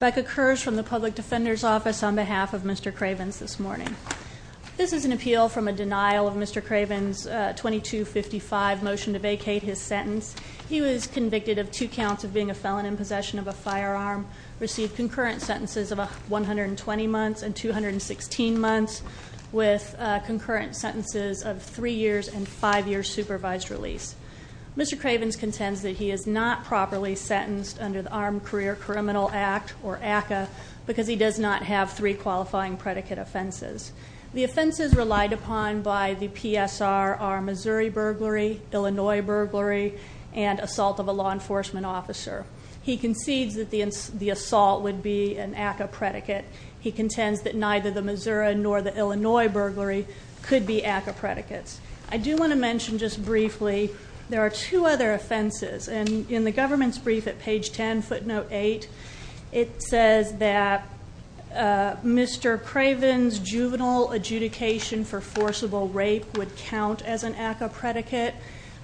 Becca Kersh from the Public Defender's Office on behalf of Mr. Cravens this morning. This is an appeal from a denial of Mr. Cravens' 2255 motion to vacate his sentence. He was convicted of two counts of being a felon in possession of a firearm, received concurrent sentences of 120 months and 216 months, with concurrent sentences of three years and five years supervised release. Mr. Cravens contends that he is not properly sentenced under the Armed Career Criminal Act, or ACCA, because he does not have three qualifying predicate offenses. The offenses relied upon by the PSR are Missouri burglary, Illinois burglary, and assault of a law enforcement officer. He concedes that the assault would be an ACCA predicate. He contends that neither the Missouri nor the Illinois burglary could be ACCA predicates. I do want to mention just briefly, there are two other offenses. And in the government's brief at page ten, footnote eight, it says that Mr. Craven's juvenile adjudication for forcible rape would count as an ACCA predicate.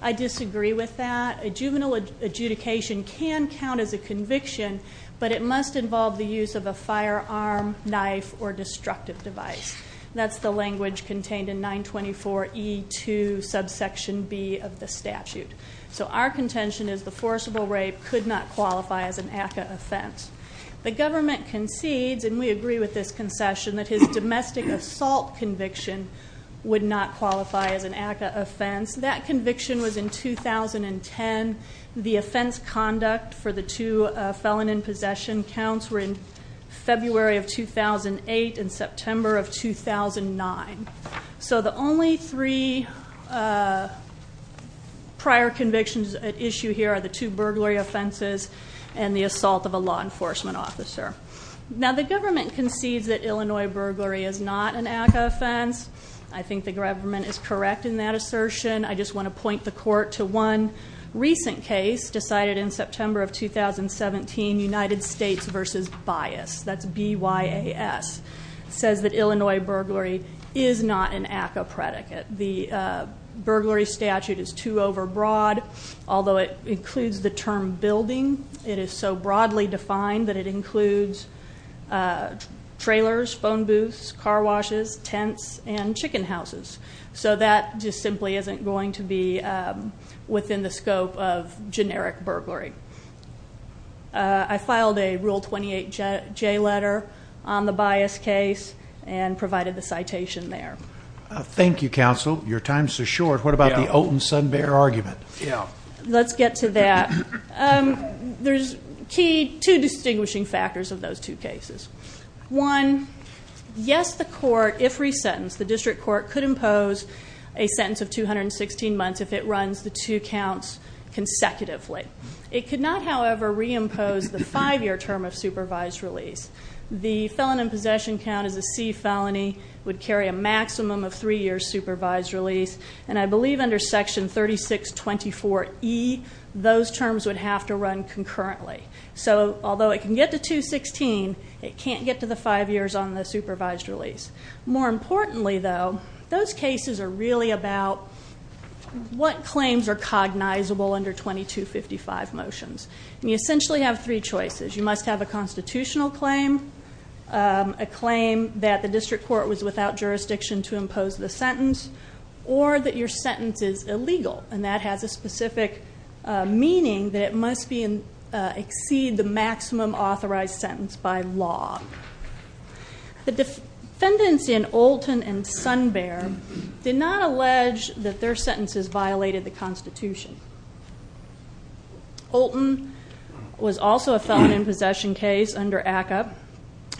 I disagree with that. A juvenile adjudication can count as a conviction, but it must involve the use of a firearm, knife, or destructive device. That's the language contained in 924E2 subsection B of the statute. So our contention is the forcible rape could not qualify as an ACCA offense. The government concedes, and we agree with this concession, that his domestic assault conviction would not qualify as an ACCA offense. That conviction was in 2010. The offense conduct for the two felon in possession counts were in 2009, so the only three prior convictions at issue here are the two burglary offenses and the assault of a law enforcement officer. Now the government concedes that Illinois burglary is not an ACCA offense. I think the government is correct in that assertion. I just want to point the court to one recent case decided in September of 2017, United States versus Bias, that's B-Y-A-S. Says that Illinois burglary is not an ACCA predicate. The burglary statute is too over broad, although it includes the term building. It is so broadly defined that it includes trailers, phone booths, car washes, tents, and chicken houses. So that just simply isn't going to be within the scope of generic burglary. I filed a Rule 28J letter on the Bias case and provided the citation there. Thank you, counsel. Your time is so short. What about the Oaton-Sunbear argument? Let's get to that. There's two distinguishing factors of those two cases. One, yes, the court, if resentenced, the district court could impose a sentence of 216 months if it runs the two counts consecutively. It could not, however, reimpose the five year term of supervised release. The felon in possession count is a C felony, would carry a maximum of three years supervised release. And I believe under section 3624E, those terms would have to run concurrently. So although it can get to 216, it can't get to the five years on the supervised release. More importantly, though, those cases are really about what claims are cognizable under 2255 motions. And you essentially have three choices. You must have a constitutional claim, a claim that the district court was without jurisdiction to impose the sentence, or that your sentence is illegal, and that has a specific meaning, that it must exceed the maximum authorized sentence by law. The defendants in Olten and Sunbear did not allege that their sentences violated the Constitution. Olten was also a felon in possession case under ACCA,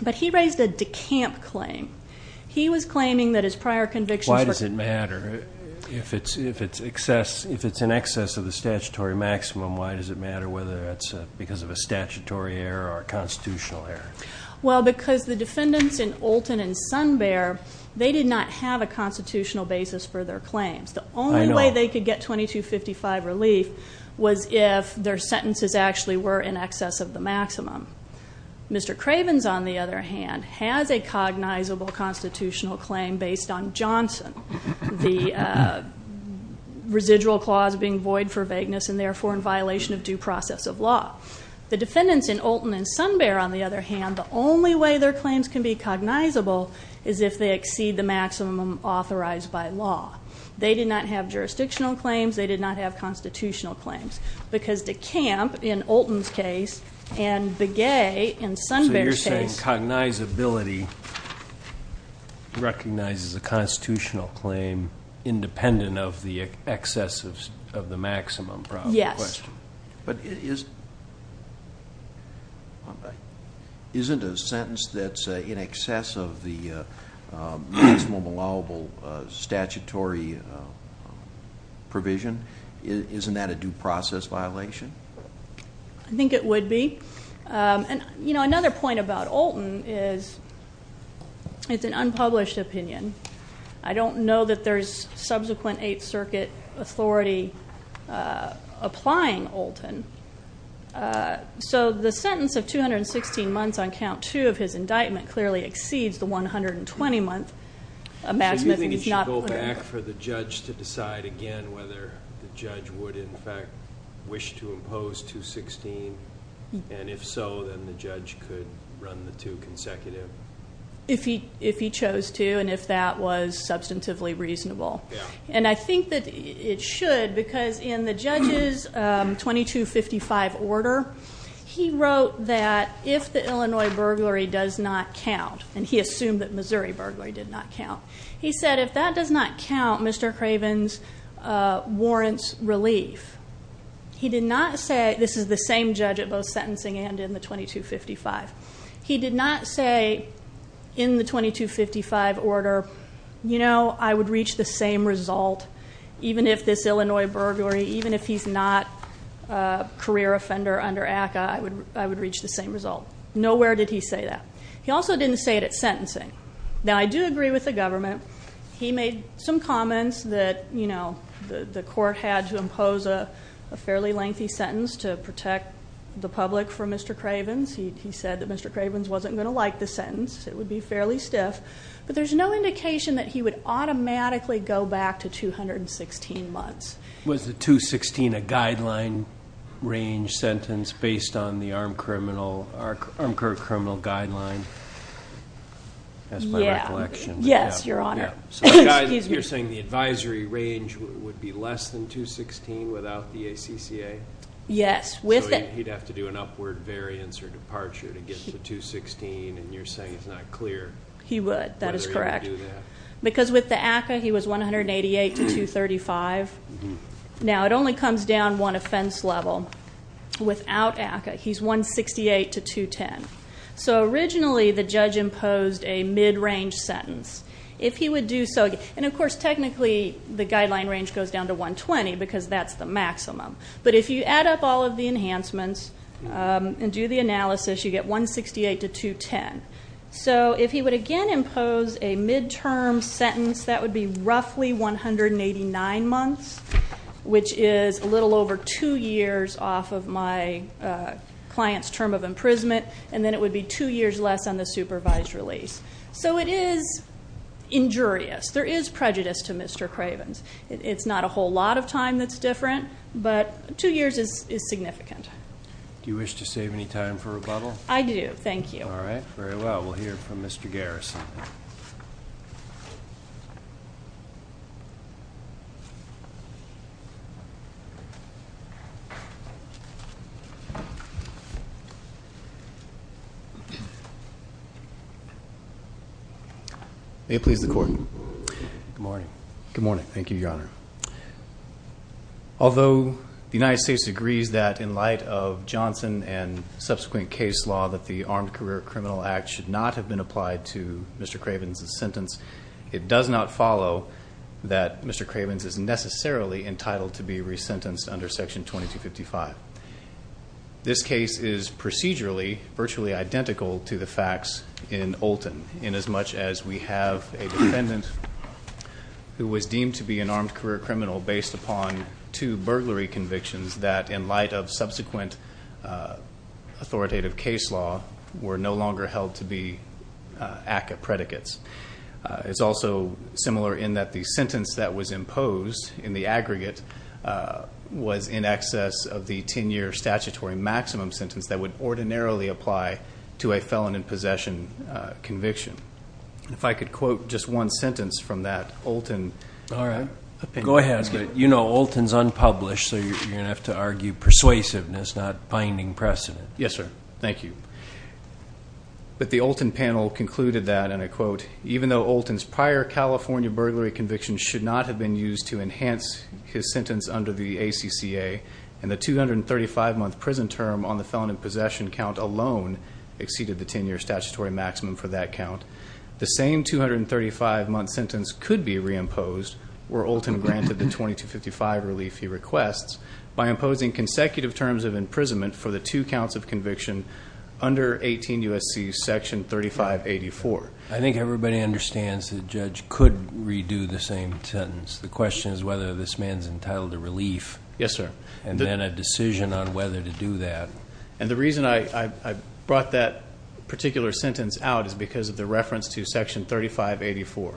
but he raised a decamp claim. He was claiming that his prior convictions were- Why does it matter if it's in excess of the statutory maximum? Why does it matter whether it's because of a statutory error or a constitutional error? Well, because the defendants in Olten and Sunbear, they did not have a constitutional basis for their claims. The only way they could get 2255 relief was if their sentences actually were in excess of the maximum. Mr. Cravens, on the other hand, has a cognizable constitutional claim based on Johnson. The residual clause being void for vagueness and therefore in violation of due process of law. The defendants in Olten and Sunbear, on the other hand, the only way their claims can be cognizable is if they exceed the maximum authorized by law. They did not have jurisdictional claims, they did not have constitutional claims. Because DeCamp, in Olten's case, and Begay, in Sunbear's case- So you're saying cognizability recognizes a constitutional claim independent of the excess of the maximum problem? Yes. But isn't a sentence that's in excess of the maximum allowable statutory provision? Isn't that a due process violation? I think it would be. And another point about Olten is it's an unpublished opinion. I don't know that there's subsequent Eighth Circuit authority applying Olten. So the sentence of 216 months on count two of his indictment clearly exceeds the 120 month maximum. So you think it should go back for the judge to decide again whether the judge would, in fact, wish to impose 216, and if so, then the judge could run the two consecutive? If he chose to, and if that was substantively reasonable. And I think that it should, because in the judge's 2255 order, he wrote that if the Illinois burglary does not count, and he assumed that Missouri burglary did not count. He said, if that does not count, Mr. Craven's warrants relief. He did not say, this is the same judge at both sentencing and in the 2255. He did not say, in the 2255 order, I would reach the same result. Even if this Illinois burglary, even if he's not a career offender under ACA, I would reach the same result. Nowhere did he say that. He also didn't say it at sentencing. Now, I do agree with the government. He made some comments that the court had to impose a fairly lengthy sentence to protect the public for Mr. Craven's. He said that Mr. Craven's wasn't going to like the sentence. It would be fairly stiff. But there's no indication that he would automatically go back to 216 months. Was the 216 a guideline range sentence based on the armed criminal guideline? As my recollection. Yes, your honor. Excuse me. You're saying the advisory range would be less than 216 without the ACCA? Yes. So he'd have to do an upward variance or departure to get to 216 and you're saying it's not clear. He would, that is correct. Because with the ACCA he was 188 to 235. Now it only comes down one offense level. Without ACCA he's 168 to 210. So originally the judge imposed a mid-range sentence. If he would do so, and of course technically the guideline range goes down to 120 because that's the maximum. But if you add up all of the enhancements and do the analysis, you get 168 to 210. So if he would again impose a mid-term sentence, that would be roughly 189 months. Which is a little over two years off of my client's term of imprisonment. And then it would be two years less on the supervised release. So it is injurious. There is prejudice to Mr. Craven's. It's not a whole lot of time that's different, but two years is significant. Do you wish to save any time for rebuttal? I do, thank you. All right, very well. We'll hear from Mr. Garrison. May it please the court. Good morning. Good morning, thank you, your honor. Although the United States agrees that in light of Johnson and subsequent case law that the Armed Career Criminal Act should not have been applied to Mr. Craven's sentence. It does not follow that Mr. Craven's is necessarily entitled to be resentenced under section 2255. This case is procedurally, virtually identical to the facts in Olten. In as much as we have a defendant who was deemed to be an armed career criminal based upon two burglary convictions that in light of subsequent authoritative case law were no longer held to be ACA predicates. It's also similar in that the sentence that was imposed in the aggregate was in excess of the ten year statutory maximum sentence that would ordinarily apply to a felon in possession conviction. If I could quote just one sentence from that Olten. All right. Go ahead. You know, Olten's unpublished, so you're going to have to argue persuasiveness, not binding precedent. Yes, sir. Thank you. But the Olten panel concluded that, and I quote, even though Olten's prior California burglary conviction should not have been used to enhance his sentence under the ACCA and the 235 month prison term on the felon in possession count alone exceeded the ten year statutory maximum for that count, the same 235 month sentence could be reimposed where Olten granted the 2255 relief he requests by imposing consecutive terms of imprisonment for the two counts of conviction under 18 USC section 3584. I think everybody understands the judge could redo the same sentence. The question is whether this man's entitled to relief. Yes, sir. And then a decision on whether to do that. And the reason I brought that particular sentence out is because of the reference to section 3584.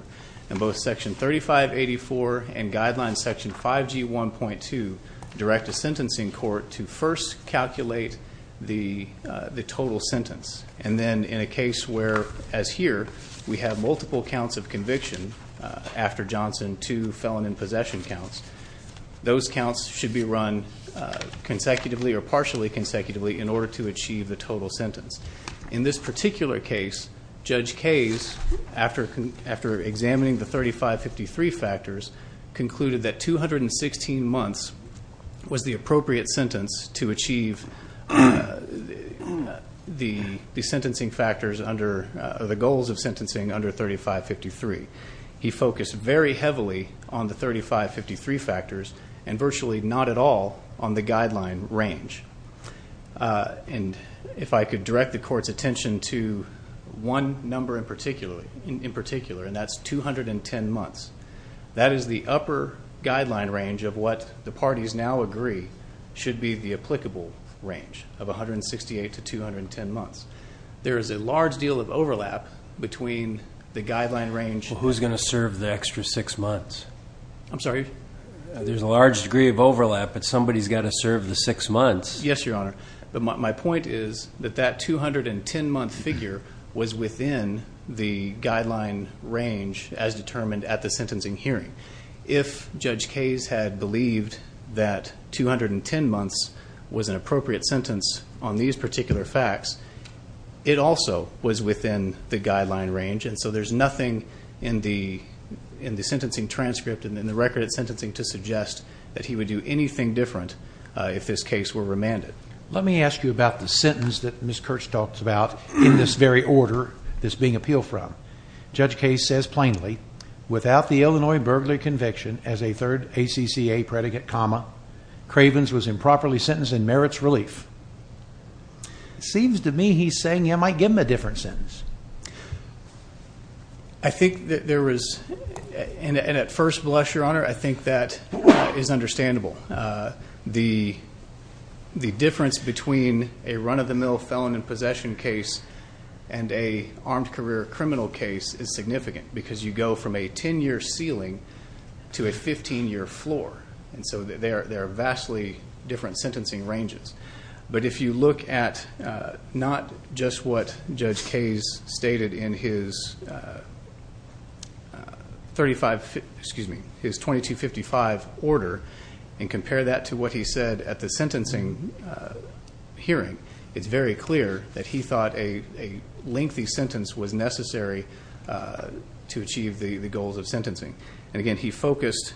And both section 3584 and guidelines section 5G1.2 direct a sentencing court to first calculate the total sentence. And then in a case where, as here, we have multiple counts of conviction after Johnson, two felon in possession counts. Those counts should be run consecutively or partially consecutively in order to achieve the total sentence. In this particular case, Judge Kays, after examining the 3553 factors, concluded that 216 months was the appropriate sentence to achieve the goals of sentencing under 3553. He focused very heavily on the 3553 factors and virtually not at all on the guideline range. And if I could direct the court's attention to one number in particular, and that's 210 months. That is the upper guideline range of what the parties now agree should be the applicable range of 168 to 210 months. There is a large deal of overlap between the guideline range- Who's going to serve the extra six months? I'm sorry? There's a large degree of overlap, but somebody's got to serve the six months. Yes, your honor. But my point is that that 210 month figure was within the guideline range as determined at the sentencing hearing. If Judge Kays had believed that 210 months was an appropriate sentence on these particular facts, it also was within the guideline range, and so there's nothing in the sentencing transcript and in the record of sentencing to suggest that he would do anything different if this case were remanded. Let me ask you about the sentence that Ms. Kurtz talked about in this very order that's being appealed from. Judge Kays says plainly, without the Illinois burglary conviction as a third ACCA predicate comma, Cravens was improperly sentenced and merits relief. Seems to me he's saying you might give him a different sentence. I think that there was, and at first, bless your honor, I think that is understandable. The difference between a run of the mill felon in possession case and an armed career criminal case is significant because you go from a ten year ceiling to a 15 year floor. And so there are vastly different sentencing ranges. But if you look at not just what Judge Kays stated in his 2255 order and compare that to what he said at the sentencing hearing, it's very clear that he thought a lengthy sentence was necessary to achieve the goals of sentencing. And again, he focused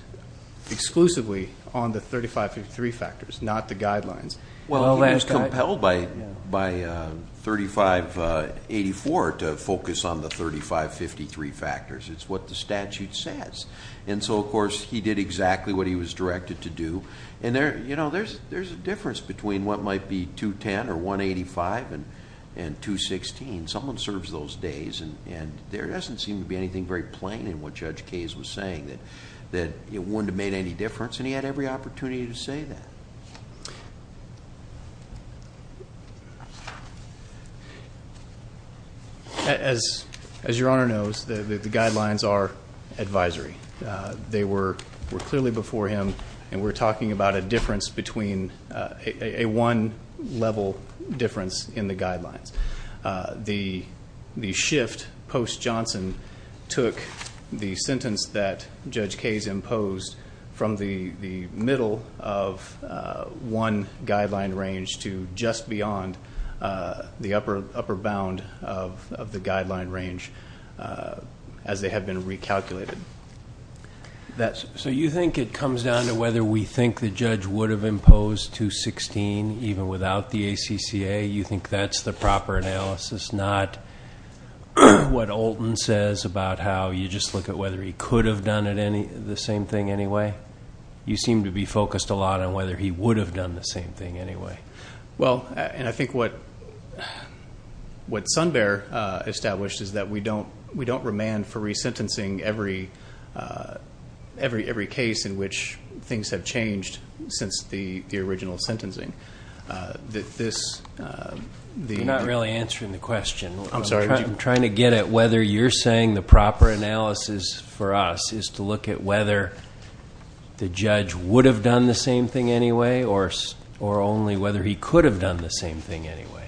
exclusively on the 3553 factors, not the guidelines. Well, he was compelled by 3584 to focus on the 3553 factors. It's what the statute says. And so, of course, he did exactly what he was directed to do. And there's a difference between what might be 210 or 185 and 216. Someone serves those days and there doesn't seem to be anything very plain in what Judge Kays was saying. That it wouldn't have made any difference and he had every opportunity to say that. As your honor knows, the guidelines are advisory. They were clearly before him and we're talking about a difference between a one level difference in the guidelines. The shift post Johnson took the sentence that Judge Kays imposed from the middle of one guideline range to just beyond the upper bound of the guideline range as they have been recalculated. So you think it comes down to whether we think the judge would have imposed 216 even without the ACCA? You think that's the proper analysis? Not what Olten says about how you just look at whether he could have done the same thing anyway? You seem to be focused a lot on whether he would have done the same thing anyway. Well, and I think what Sun Bear established is that we don't remand for resentencing every case in which things have changed since the original sentencing. That this, the- You're not really answering the question. I'm sorry. I'm trying to get at whether you're saying the proper analysis for us is to look at whether the judge would have done the same thing anyway or only whether he could have done the same thing anyway,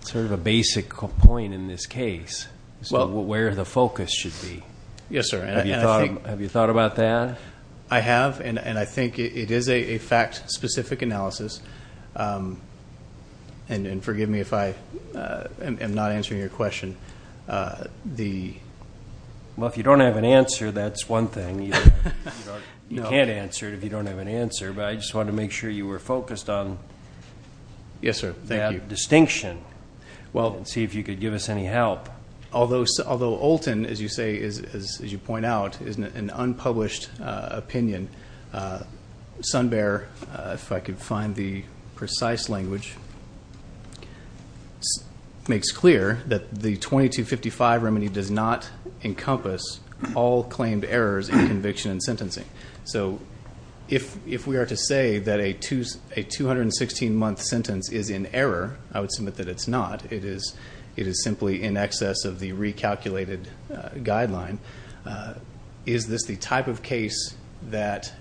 sort of a basic point in this case. So where the focus should be. Yes, sir, and I think- Have you thought about that? I have, and I think it is a fact-specific analysis. And forgive me if I am not answering your question. Well, if you don't have an answer, that's one thing. You can't answer it if you don't have an answer. But I just wanted to make sure you were focused on- Yes, sir, thank you. Distinction. Well, and see if you could give us any help. Although Olten, as you say, as you point out, is an unpublished opinion. Sun Bear, if I could find the precise language, makes clear that the 2255 remedy does not encompass all claimed errors in conviction and sentencing. So if we are to say that a 216 month sentence is in error, I would submit that it's not. It is simply in excess of the recalculated guideline. Is this the type of case that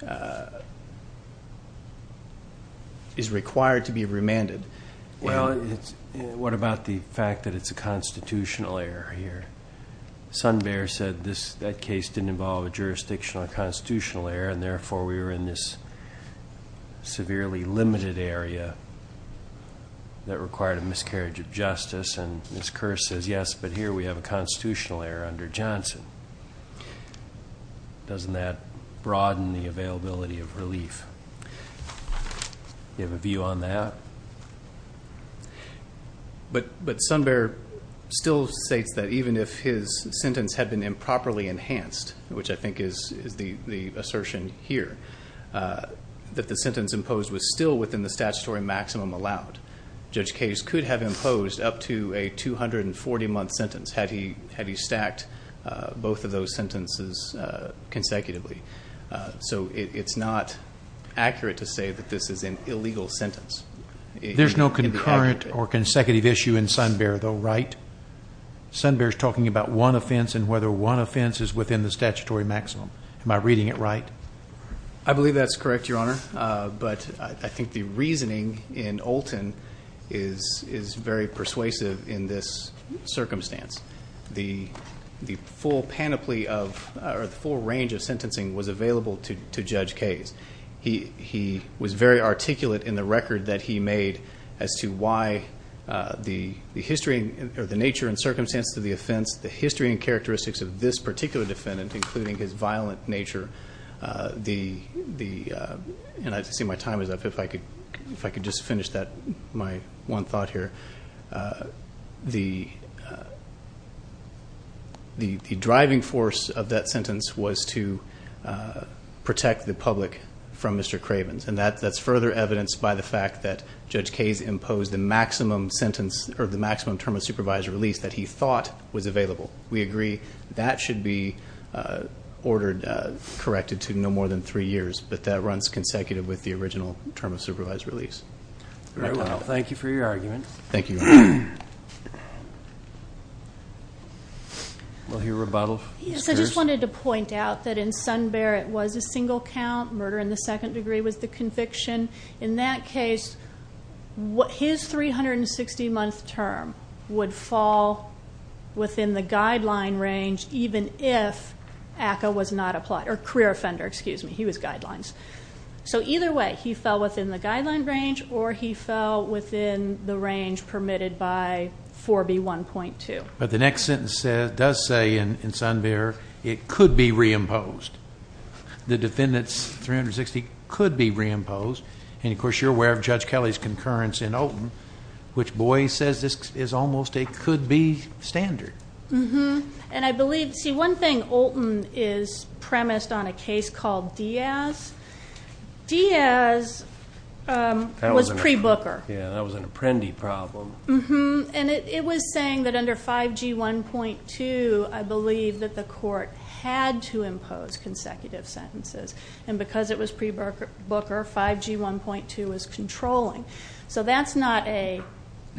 is required to be remanded? Well, what about the fact that it's a constitutional error here? Sun Bear said that case didn't involve a jurisdictional or constitutional error, and therefore we were in this severely limited area that required a miscarriage of justice. And Ms. Kearse says, yes, but here we have a constitutional error under Johnson. Doesn't that broaden the availability of relief? Do you have a view on that? But Sun Bear still states that even if his sentence had been improperly enhanced, which I think is the assertion here, that the sentence imposed was still within the statutory maximum allowed. Judge Case could have imposed up to a 240 month sentence had he stacked both of those sentences consecutively. So it's not accurate to say that this is an illegal sentence. There's no concurrent or consecutive issue in Sun Bear, though, right? Sun Bear's talking about one offense and whether one offense is within the statutory maximum. Am I reading it right? I believe that's correct, Your Honor. But I think the reasoning in Olten is very persuasive in this circumstance. The full panoply of, or the full range of sentencing was available to Judge Case. He was very articulate in the record that he made as to why the history, or the nature and circumstances of the offense, the history and characteristics of this particular defendant, including his violent nature. And I see my time is up, if I could just finish that, my one thought here. The driving force of that sentence was to protect the public from Mr. Cravens. And that's further evidenced by the fact that Judge Case imposed the maximum sentence, or the maximum term of supervised release that he thought was available. We agree that should be ordered, corrected to no more than three years. But that runs consecutive with the original term of supervised release. All right, well, thank you for your argument. Thank you. Will he rebuttal? Yes, I just wanted to point out that in Sun Bear it was a single count. Murder in the second degree was the conviction. In that case, his 360 month term would fall within the guideline range even if ACCA was not applied, or career offender, excuse me, he was guidelines. So either way, he fell within the guideline range, or he fell within the range permitted by 4B1.2. But the next sentence does say in Sun Bear, it could be reimposed. The defendant's 360 could be reimposed. And of course, you're aware of Judge Kelly's concurrence in Olton, which, boy, he says this is almost a could be standard. Mm-hm, and I believe, see, one thing, Olton is premised on a case called Diaz. Diaz was pre-Booker. Yeah, that was an apprendi problem. Mm-hm, and it was saying that under 5G1.2, I believe that the court had to impose, and because it was pre-Booker, 5G1.2 was controlling. So that's not a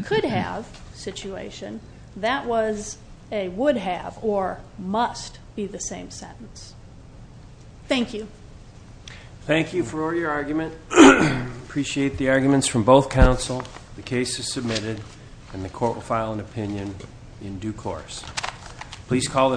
could have situation, that was a would have, or must be the same sentence. Thank you. Thank you for your argument. Appreciate the arguments from both counsel. The case is submitted, and the court will file an opinion in due course. Please call the.